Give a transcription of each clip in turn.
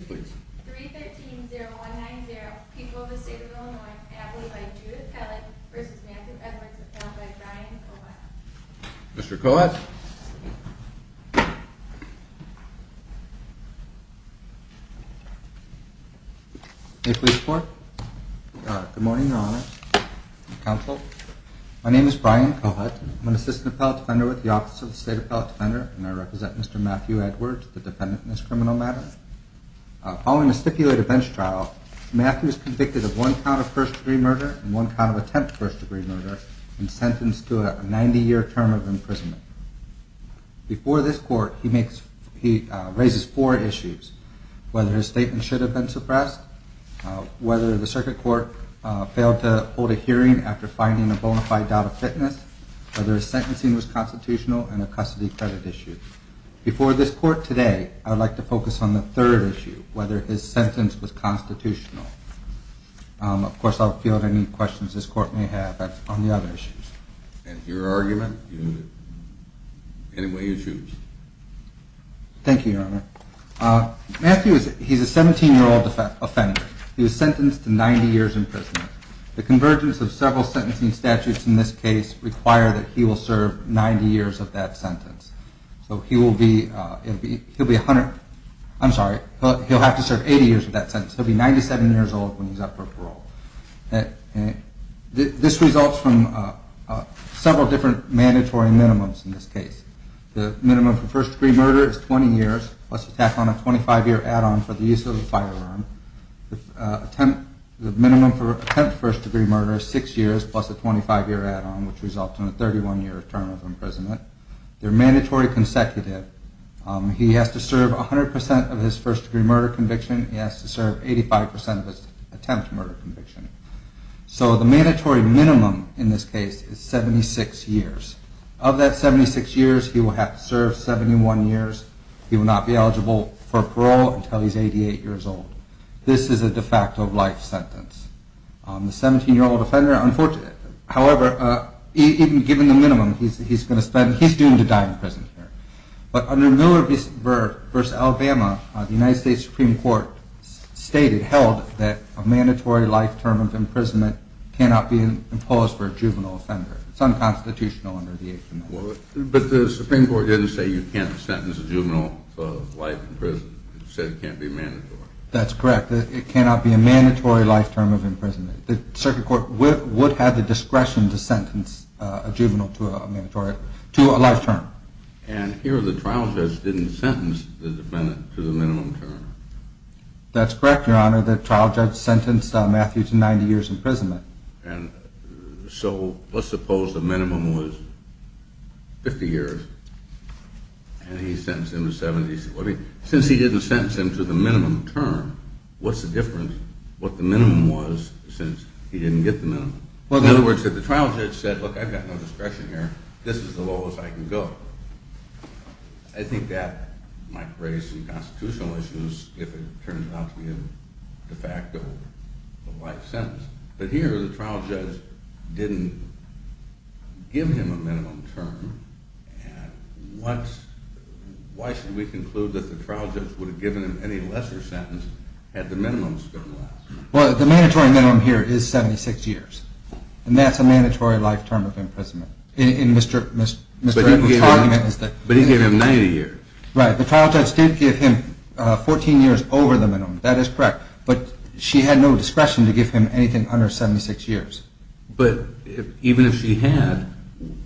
313-0190 People of the State of Illinois Applied by Judith Kellett v. Matthew Edwards Appellant by Brian Kohut Mr. Kohut May I please report? Good morning, Your Honor and Counsel. My name is Brian Kohut. I'm an Assistant Appellate Defender with the Office of the State Appellate Defender and I represent Mr. Matthew Edwards, the defendant in this criminal matter. Following a stipulated bench trial, Matthew is convicted of one count of first-degree murder and one count of attempt first-degree murder and sentenced to a 90-year term of imprisonment. Before this court, he raises four issues, whether his statement should have been suppressed, whether the circuit court failed to hold a hearing after finding a bona fide doubt of fitness, whether his sentencing was constitutional, and a custody credit issue. Before this court today, I would like to focus on the third issue, whether his sentence was constitutional. Of course, I'll field any questions this court may have on the other issues. And your argument? Any way you choose. Thank you, Your Honor. Matthew, he's a 17-year-old offender. He was sentenced to 90 years in prison. The convergence of several sentencing statutes in this case require that he will serve 90 years of that sentence. He'll have to serve 80 years of that sentence. He'll be 97 years old when he's up for parole. This results from several different mandatory minimums in this case. The minimum for first-degree murder is 20 years, plus a 25-year add-on for the use of a firearm. The minimum for attempt first-degree murder is six years, plus a 25-year term of imprisonment. They're mandatory consecutive. He has to serve 100% of his first-degree murder conviction. He has to serve 85% of his attempt murder conviction. So the mandatory minimum in this case is 76 years. Of that 76 years, he will have to serve 71 years. He will not be eligible for parole until he's 88 years old. This is a de facto life sentence. The 17-year-old offender, however, even given the minimum, he's doomed to die in prison here. But under Miller v. Alabama, the United States Supreme Court stated, held, that a mandatory life term of imprisonment cannot be imposed for a juvenile offender. It's unconstitutional under the 8th Amendment. But the Supreme Court didn't say you can't sentence a juvenile of life in prison. It said it can't be mandatory. That's correct. It cannot be a mandatory life term of imprisonment. It would have the discretion to sentence a juvenile to a mandatory life term. And here the trial judge didn't sentence the defendant to the minimum term. That's correct, Your Honor. The trial judge sentenced Matthew to 90 years imprisonment. So let's suppose the minimum was 50 years. And he sentenced him to 70. Since he didn't sentence him to the minimum term, what's the difference? What the minimum was since he didn't get the minimum? In other words, if the trial judge said, look, I've got no discretion here. This is the lowest I can go. I think that might raise some constitutional issues if it turns out to be a de facto life sentence. But here the trial judge didn't give him a minimum term. And why should we conclude that the trial judge would have given him any lesser sentence had the minimum term lasted? Well, the mandatory minimum here is 76 years. And that's a mandatory life term of imprisonment. But he gave him 90 years. Right. The trial judge did give him 14 years over the minimum. That is correct. But she had no discretion to give him anything under 76 years. But even if she had,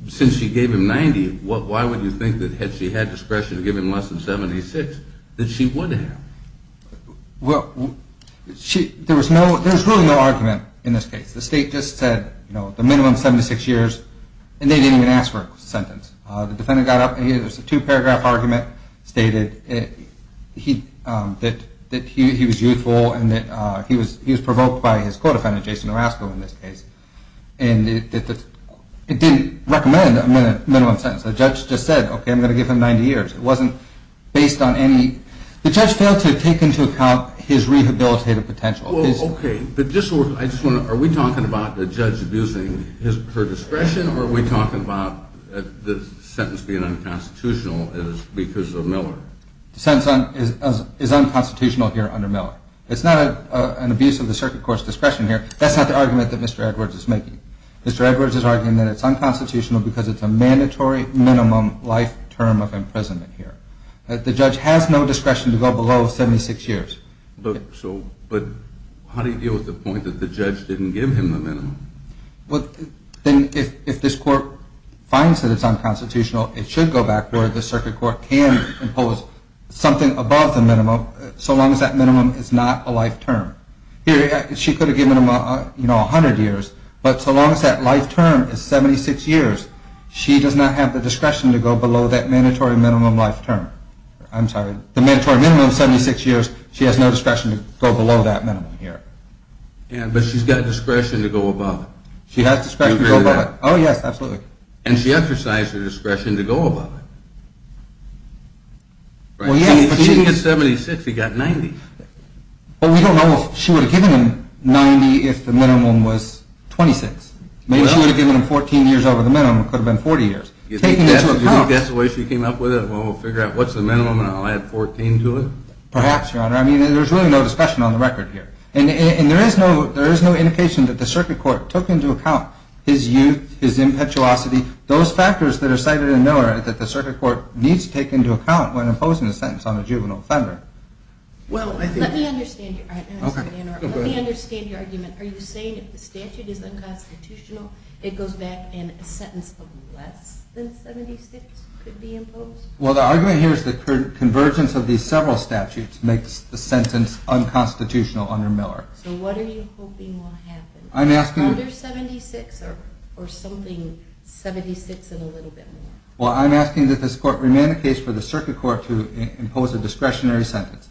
since she gave him 90, why would you think that had she had discretion to give him less than 76, that she would have? Well, there was really no argument in this case. The state just said the minimum is 76 years and they didn't even ask for a sentence. The defendant got up and there was a two-paragraph argument stated that he was youthful and that he was provoked by his co-defendant, Jason Orozco, in this case. And it didn't recommend a minimum sentence. The judge just said, okay, I'm going to give him 90 years. It wasn't based on any, the judge failed to take into account his rehabilitative potential. Well, okay. But just, I just want to, are we talking about the judge abusing her discretion or are we talking about the sentence being unconstitutional because of Miller? The sentence is unconstitutional here under Miller. It's not an abuse of the circuit court's discretion here. That's not the argument that Mr. Edwards is making. Mr. Edwards is arguing that it's unconstitutional because it's a mandatory minimum life term of imprisonment here. The judge has no discretion to go below 76 years. But how do you deal with the point that the judge didn't give him the minimum? Well, then if this court finds that it's unconstitutional, it should go back where the circuit court can impose something above the minimum so long as that minimum is not a life term. Here, she could have given him, you know, a hundred years, but so long as that life term is 76 years, she does not have the discretion to go below that mandatory minimum life term. I'm sorry, the mandatory minimum of 76 years, she has no discretion to go below that minimum here. Yeah, but she's got discretion to go above it. She has discretion to go above it. Oh, yes, absolutely. And she exercised her discretion to go above it. Well, yeah, but she didn't get 76, he got 90. Well, we don't know if she would have given him 90 if the minimum was 26. Maybe she would have given him 14 years over the minimum. It could have been 40 years. You think that's the way she came up with it? Well, we'll figure out what's the minimum and I'll add 14 to it? Perhaps, Your Honor. I mean, there's really no discussion on the record here. And there is no indication that the circuit court took into account his youth, his impetuosity, those factors that are cited in Miller that the circuit court needs to take into account when imposing a sentence on a juvenile offender. Well, let me understand your argument. Are you saying if the statute is unconstitutional, it goes back and a sentence of less than 76 could be imposed? Well, the argument here is the convergence of these several statutes makes the sentence unconstitutional under Miller. So what are you hoping will happen? Under 76 or something 76 and a little bit more? Well, I'm asking that this court remain the case for the circuit court to impose a discretionary sentence.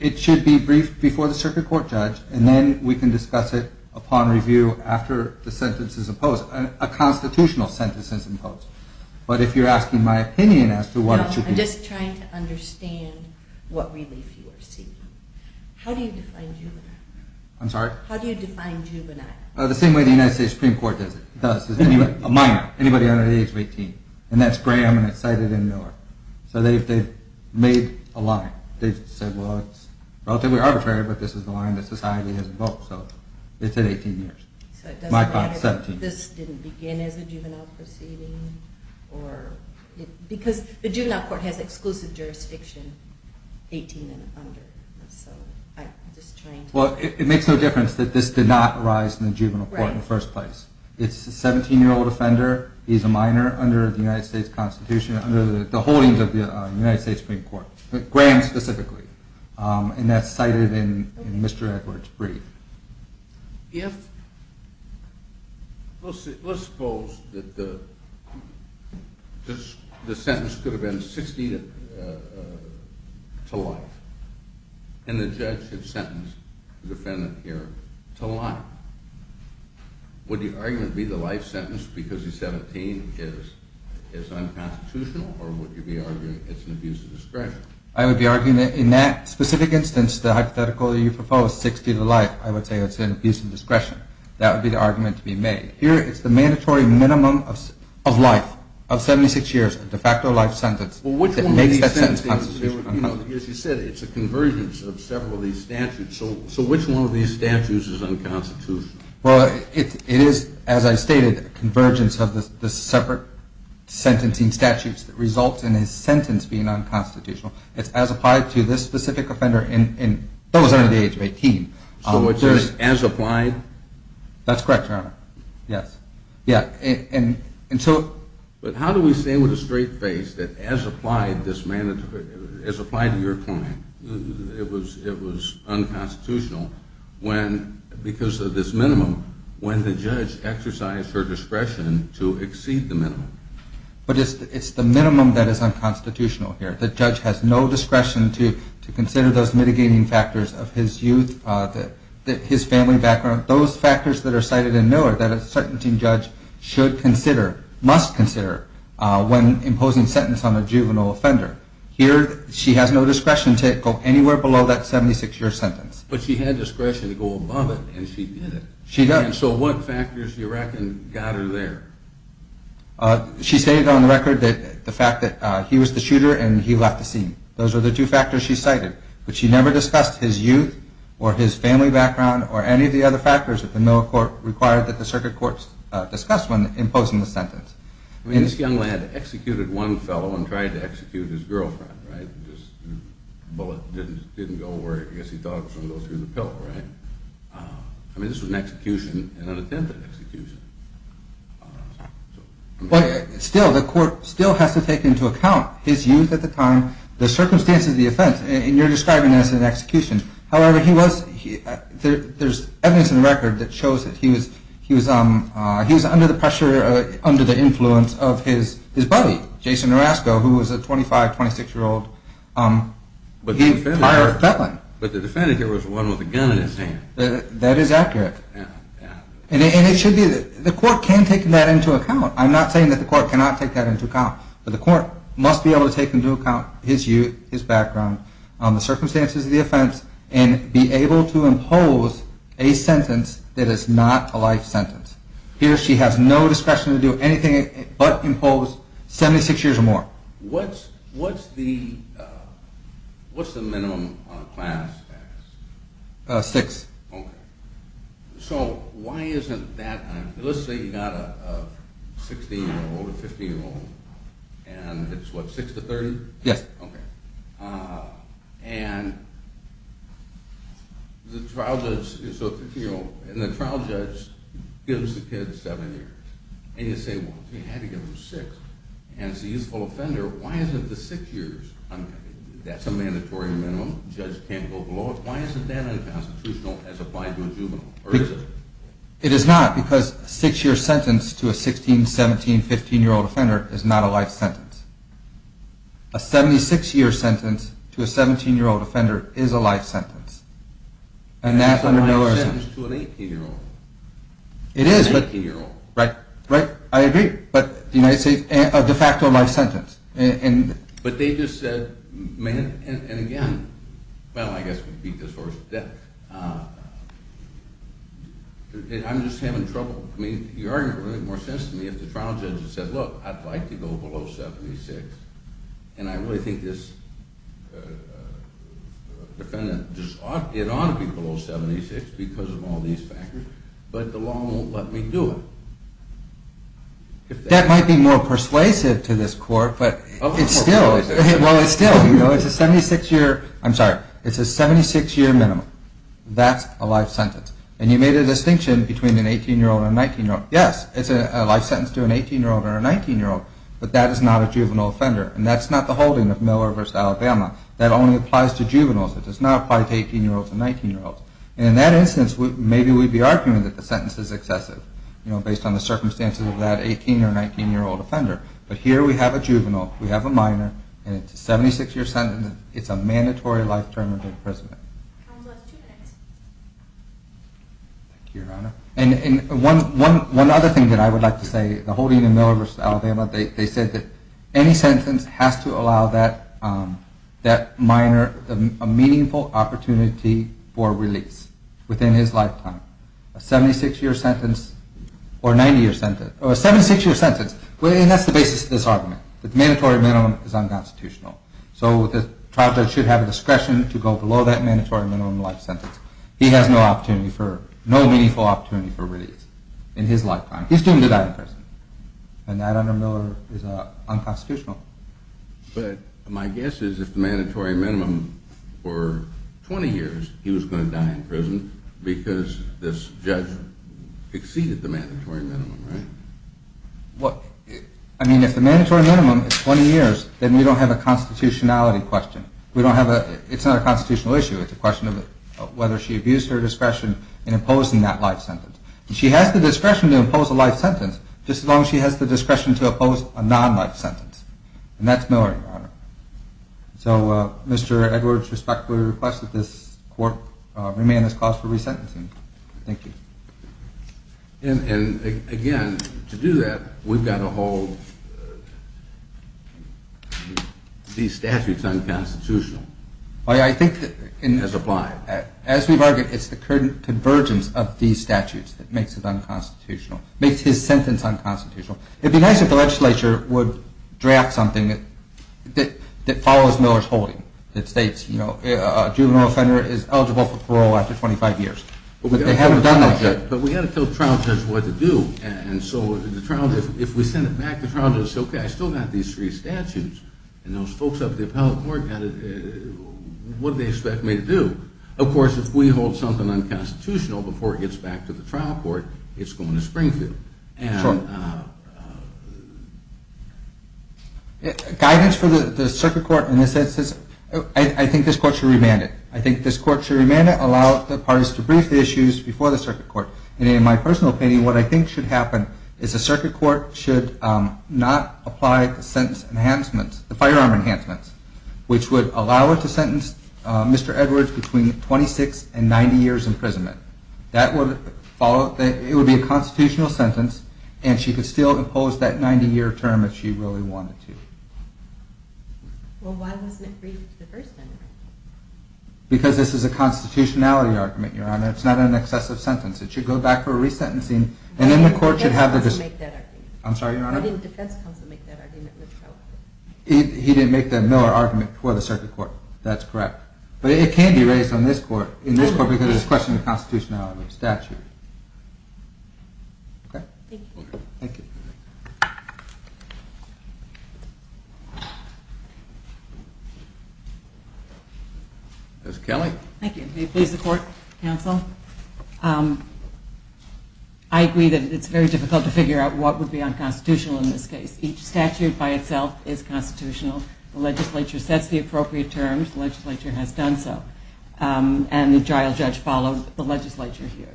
It should be briefed before the circuit court judge and then we can discuss it upon review after the sentence is imposed, a constitutional sentence is imposed. But if you're asking my opinion as to what it should be. No, I'm just trying to understand what relief you are seeking. How do you define juvenile? I'm sorry? How do you define juvenile? The same way the United States Supreme Court does it. A minor, anybody under the age of 18. And that's Graham and it's cited in Miller. So they've made a line. They've said, well, relatively arbitrary, but this is the line that society has invoked. So it's at 18 years. This didn't begin as a juvenile proceeding? Because the juvenile court has exclusive jurisdiction, 18 and under. Well, it makes no difference that this did not arise in the juvenile court in the first place. It's a 17-year-old offender. He's a minor under the United States Constitution, under the holdings of the United States Supreme Court. Graham specifically. And that's cited in Mr. Edwards' brief. Let's suppose that the sentence could have been 60 to life. And the judge had sentenced the defendant here to life. Would the argument be the life sentence because he's 17 is unconstitutional or would I would be arguing that in that specific instance, the hypothetical that you proposed, 60 to life, I would say that's an abuse of discretion. That would be the argument to be made. Here it's the mandatory minimum of life of 76 years, a de facto life sentence that makes that sentence constitutionally unconstitutional. As you said, it's a convergence of several of these statutes. So which one of these statutes is unconstitutional? Well, it is, as I stated, a convergence of the separate sentencing statutes that result in a sentence being unconstitutional. It's as applied to this specific offender that was under the age of 18. So it's just as applied? That's correct, Your Honor. Yes. But how do we stay with a straight face that as applied to your client, it was unconstitutional because of this minimum when the judge exercised her discretion to exceed the minimum? But it's the minimum that is unconstitutional here. The judge has no discretion to consider those mitigating factors of his youth that his family background, those factors that are cited in Miller that a sentencing judge should consider, must consider when imposing a sentence on a juvenile offender. Here, she has no discretion to go anywhere below that 76-year sentence. But she had discretion to go above it, and she did it. She does. So what factors do you reckon got her there? She stated on the record that the fact that he was the shooter and he left the scene. Those are the two factors she cited. But she never discussed his youth or his family background or any of the other factors that the Miller court required that the circuit courts discuss when imposing the sentence. I mean, this young lad executed one fellow and tried to execute his girlfriend, right? The bullet didn't go where I guess he thought it was going to go through the pillow, right? I mean, this was an execution and an attempted execution. But still, the court still has to take into account his youth at the time, the circumstances of the offense, and you're describing it as an execution. However, there's evidence in the record that shows that he was under the pressure, under the influence of his buddy, Jason Orozco, who was a 25, 26-year-old prior felon. But the defendant here was the one with a gun in his hand. That is accurate. And it should be, the court can take that into account. I'm not saying that the court cannot take that into account. But the court must be able to take into account his youth, his background, the circumstances of the offense, and be able to impose a sentence that is not a life sentence. Here, she has no discretion to do anything but impose 76 years or more. What's the minimum class? Six. So, why isn't that, let's say you've got a 16-year-old or 15-year-old, and it's what, six to 30? Yes. And the trial judge is a 15-year-old, and the trial judge gives the kid seven years. And you say, well, you had to give him six. And as a youthful offender, why isn't the six years, that's a life sentence? It is not, because a six-year sentence to a 16, 17, 15-year-old offender is not a life sentence. A 76-year sentence to a 17-year-old offender is a life sentence. And that's under militarism. Right, I agree, but the United States, a de facto life sentence. But they just said, and again, well, I guess we beat this horse to death. I'm just having trouble, I mean, it would make more sense to me if the trial judge had said, look, I'd like to go below 76, and I really think this defendant, it ought to be below 76 because of all these factors, but the law won't let me do it. That might be more persuasive to this court, but it's still, it's a 76-year, I'm sorry, it's a 76-year minimum. That's a life sentence. And you made a distinction between an 18-year-old and a 19-year-old. Yes, it's a life sentence to an 18-year-old and a 19-year-old, but that is not a juvenile offender. And that's not the holding of Miller v. Alabama. That only applies to juveniles. It does not apply to 18-year-olds and 19-year-olds. And in that instance, maybe we'd be arguing that the sentence is excessive, based on the circumstances of that 18- or 19-year-old that we have a minor, and it's a 76-year sentence. It's a mandatory life term of imprisonment. Thank you, Your Honor. And one other thing that I would like to say, the holding of Miller v. Alabama, they said that any sentence has to allow that minor a meaningful opportunity for release within his lifetime. A 76-year sentence, or a 90-year sentence, or a 76-year sentence, and that's the basis of this argument. The mandatory minimum is unconstitutional. So the trial judge should have a discretion to go below that mandatory minimum life sentence. He has no meaningful opportunity for release in his lifetime. He's doomed to die in prison. And that under Miller is unconstitutional. But my guess is if the mandatory minimum were 20 years, he was going to die in prison because this judge exceeded the mandatory minimum, right? I mean, if the mandatory minimum is 20 years, then we don't have a constitutionality question. It's not a constitutional issue. It's a question of whether she abused her discretion in imposing that life sentence. And she has the discretion to impose a life sentence, just as long as she has the discretion to oppose a non-life sentence. And that's Miller, Your Honor. So, Mr. Edwards, respectfully request that this court remain in its clause for resentencing. Thank you. And again, to do that, we've got to hold these statutes unconstitutional as applied. As we've argued, it's the convergence of these statutes that makes it unconstitutional, makes his sentence unconstitutional. It would be nice if the legislature would draft something that follows Miller's holding, that states a juvenile offender is eligible for parole after 25 years. But they haven't done that yet. But we've got to tell the trial judge what to do. And so, if we send it back to the trial judge and say, okay, I still got these three statutes and those folks up at the appellate court got it, what do they expect me to do? Of course, if we hold something unconstitutional before it gets back to the trial court, it's going to Springfield. Guidance for the circuit court in this instance, I think this court should remand it. I think this court should remand it. And in my personal opinion, what I think should happen is the circuit court should not apply the sentence enhancements, the firearm enhancements, which would allow it to sentence Mr. Edwards between 26 and 90 years imprisonment. It would be a constitutional sentence, and she could still impose that 90-year term if she really wanted to. Well, why wasn't it briefed the first time around? Because this is a constitutionality argument, Your Honor. It's not an excessive sentence. It should go back for resentencing. Why didn't the defense counsel make that argument? He didn't make the Miller argument for the circuit court. That's correct. But it can be raised in this court because it's a question of constitutionality, of statute. Thank you. Ms. Kelly. Thank you. May it please the court, counsel? I agree that it's very difficult to figure out what would be unconstitutional in this case. Each statute by itself is constitutional. The legislature sets the appropriate terms. The legislature has done so. And the trial judge followed the legislature here.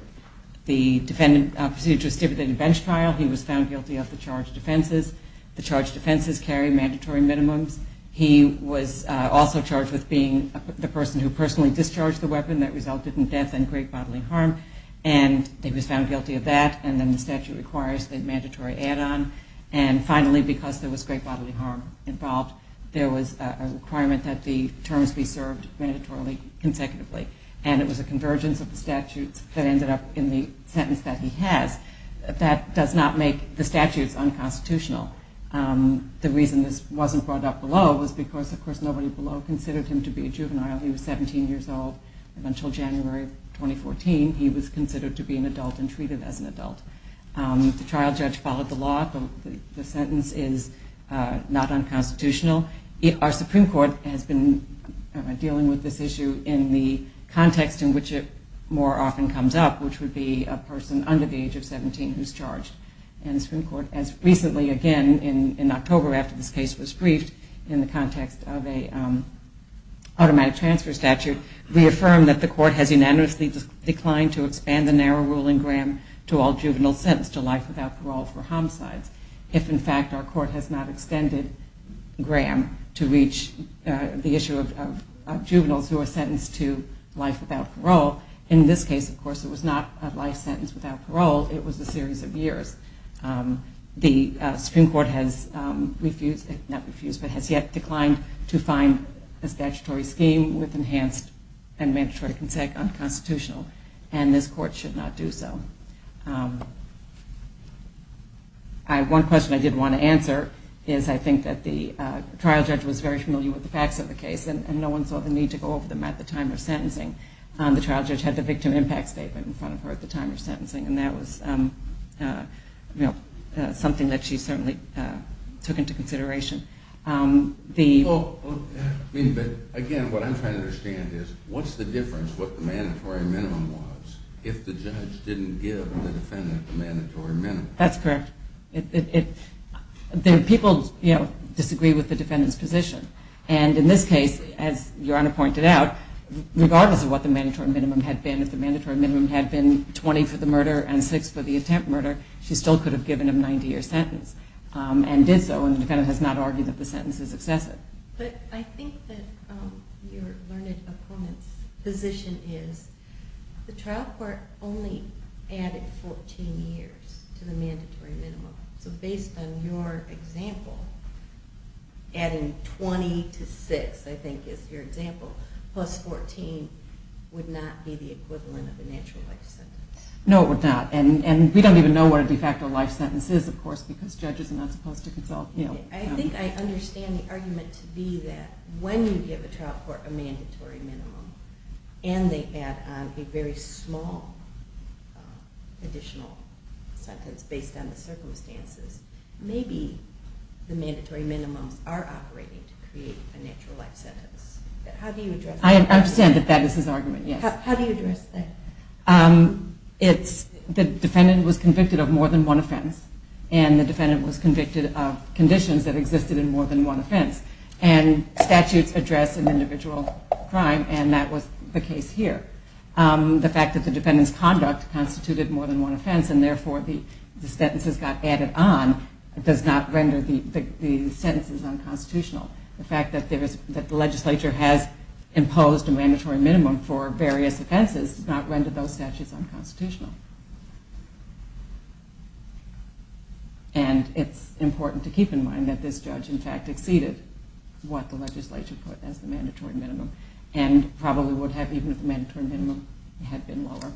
The defendant proceeded to a stipulated bench trial. He was found guilty of the charged defenses. The charged defenses carry mandatory minimums. He was also charged with being the person who personally discharged the weapon that resulted in death and great bodily harm. And he was found guilty of that. And then the statute requires the mandatory add-on. And finally, because there was great bodily harm involved, there was a requirement that the terms be served mandatorily, consecutively. And it was a convergence of the statutes that ended up in the sentence that he has. That does not make the statutes unconstitutional. The reason this wasn't brought up below was because, of course, nobody below considered him to be a juvenile. He was 17 years old. And until January of 2014, he was considered to be an adult and treated as an adult. The trial judge followed the law. The sentence is not unconstitutional. Our Supreme Court has been dealing with this issue in the context in which it more often comes up, which would be a person under the age of 17 who's charged. And the Supreme Court has recently, again, in October after this case was briefed, in the context of a automatic transfer statute, reaffirmed that the court has unanimously declined to expand the narrow ruling, Graham, to all juveniles sentenced to life without parole for homicides. If, in fact, our court has not extended Graham to reach the issue of juveniles who are sentenced to life without parole. In this case, of course, it was not a life sentence without parole. It was a series of years. The Supreme Court has yet declined to find a statutory scheme with enhanced and mandatory consent unconstitutional. And this court should not do so. One question I did want to answer is I think that the trial judge was very familiar with the facts of the case and no one saw the need to go over them at the time of sentencing. The trial judge had the victim impact statement in front of her at the time of sentencing and that was something that she certainly took into consideration. Again, what I'm trying to understand is what's the difference what the mandatory minimum was if the judge didn't give the defendant the mandatory minimum? That's correct. People disagree with the defendant's position. And in this case, as Your Honor pointed out, regardless of what the mandatory minimum had been, if the mandatory minimum was four years for the murder and six for the attempt murder, she still could have given a 90-year sentence and did so. And the defendant has not argued that the sentence is excessive. But I think that your learned opponent's position is the trial court only added 14 years to the mandatory minimum. So based on your example, adding 20 to six, I think is your example, plus 14 would not be the equivalent of a natural life sentence. No, it would not. And we don't even know what a de facto life sentence is, of course, because judges are not supposed to consult. I think I understand the argument to be that when you give a trial court a mandatory minimum and they add on a very small additional sentence based on the circumstances, maybe the mandatory minimums are operating to create a natural life sentence. How do you address that? I understand that that is his argument, yes. How do you address that? The defendant was convicted of more than one offense, and the defendant was convicted of conditions that existed in more than one offense. And statutes address an individual crime, and that was the case here. The fact that the defendant's conduct constituted more than one offense, and therefore the sentences got added on, does not render the sentences unconstitutional. The fact that the legislature has imposed a mandatory minimum for various offenses does not render those statutes unconstitutional. And it's important to keep in mind that this judge, in fact, exceeded what the legislature put as the mandatory minimum, and probably would have even if the mandatory minimum had been lower.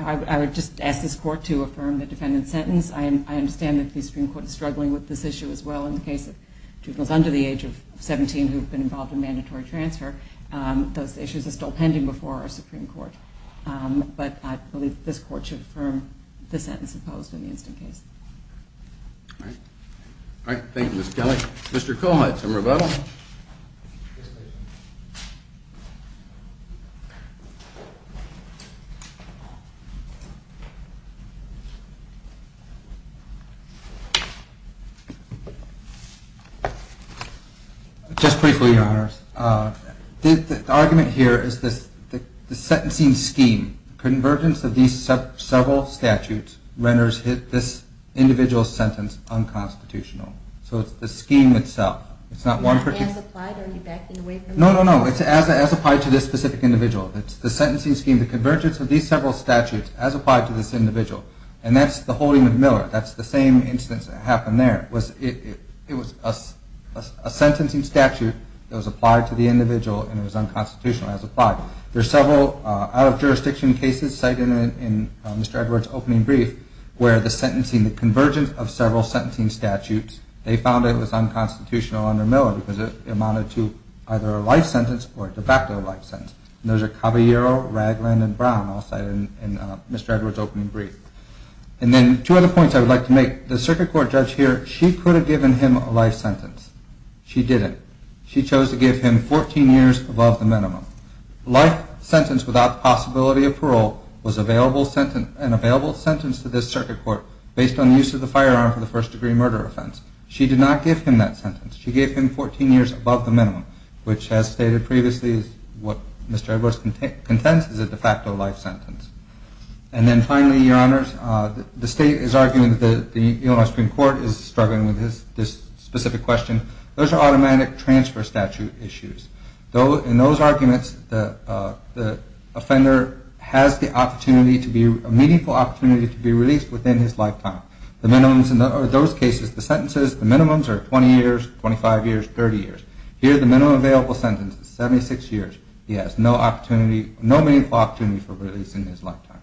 I would just ask this court to affirm the defendant's sentence. I understand that the Supreme Court is struggling with this issue as well in the case of juveniles under the age of 17 who have been involved in mandatory transfer. Those issues are still pending before our Supreme Court. But I believe that this court should affirm the sentence imposed in the instant case. All right. Thank you, Ms. Kelley. Mr. Kohut to rebuttal. Just briefly, Your Honors. The argument here is the sentencing scheme. Convergence of these several statutes renders this individual sentence unconstitutional. So it's the scheme itself. Is that as applied or are you backing away from that? No, no, no. It's as applied to this specific individual. It's the sentencing scheme. The convergence of these several statutes as applied to this individual. And that's the holding of Miller. That's the same instance that happened there. It was a sentencing statute that was applied to the individual and it was unconstitutional as applied. There's several out-of-jurisdiction cases cited in Mr. Edwards' opening brief where the convergence of several sentencing statutes, they found it was unconstitutional under Miller because it amounted to either a life sentence or a de facto life sentence. And those are Caballero, Ragland, and Brown all cited in Mr. Edwards' opening brief. And then two other points I would like to make. The circuit court judge here, she could have given him a life sentence. She didn't. She chose to give him 14 years above the minimum. A life sentence without the possibility of parole was an available sentence to this circuit court based on the use of the firearm for the first degree murder offense. She did not give him that sentence. She gave him 14 years of parole, which in the circuit court's consensus is a de facto life sentence. And then finally, Your Honors, the state is arguing that the Illinois Supreme Court is struggling with this specific question. Those are automatic transfer statute issues. In those arguments, the offender has the opportunity to be, a meaningful opportunity to be released within his lifetime. The minimums in those cases, the sentences, the minimums are 20 years, 25 years, 30 years. Here, the minimum available sentence is 76 years. He has no opportunity, no meaningful opportunity for release in his lifetime.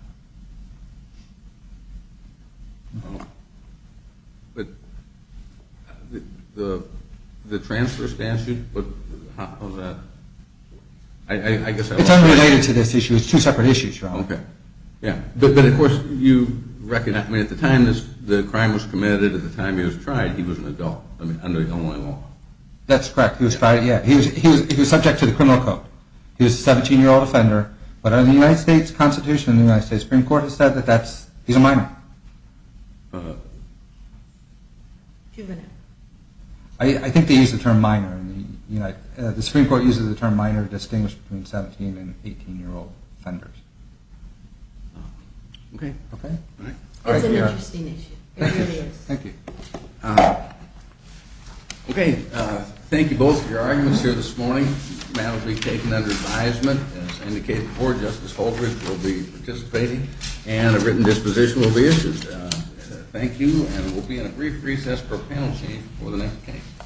The transfer statute, how is that? It's unrelated to this issue. It's two separate issues, Your Honor. But of course, you recognize, at the time the crime was committed, at the time he was tried, he was an adult under Illinois law. That's correct. He was tried, yeah. He was subject to the criminal code. He was a 17-year-old offender. But under the United States Constitution, the United States Supreme Court has said that that's, he's a minor. I think they use the term minor. The Supreme Court uses the term minor to distinguish between 17 and 18-year-old offenders. It's an interesting issue. It really is. Thank you. Thank you both for your arguments here this morning. The matter will be taken under advisement. As indicated before, Justice Holbrook will be participating, and a written disposition will be issued. Thank you, and we'll be in a brief recess for a panel change before the next case.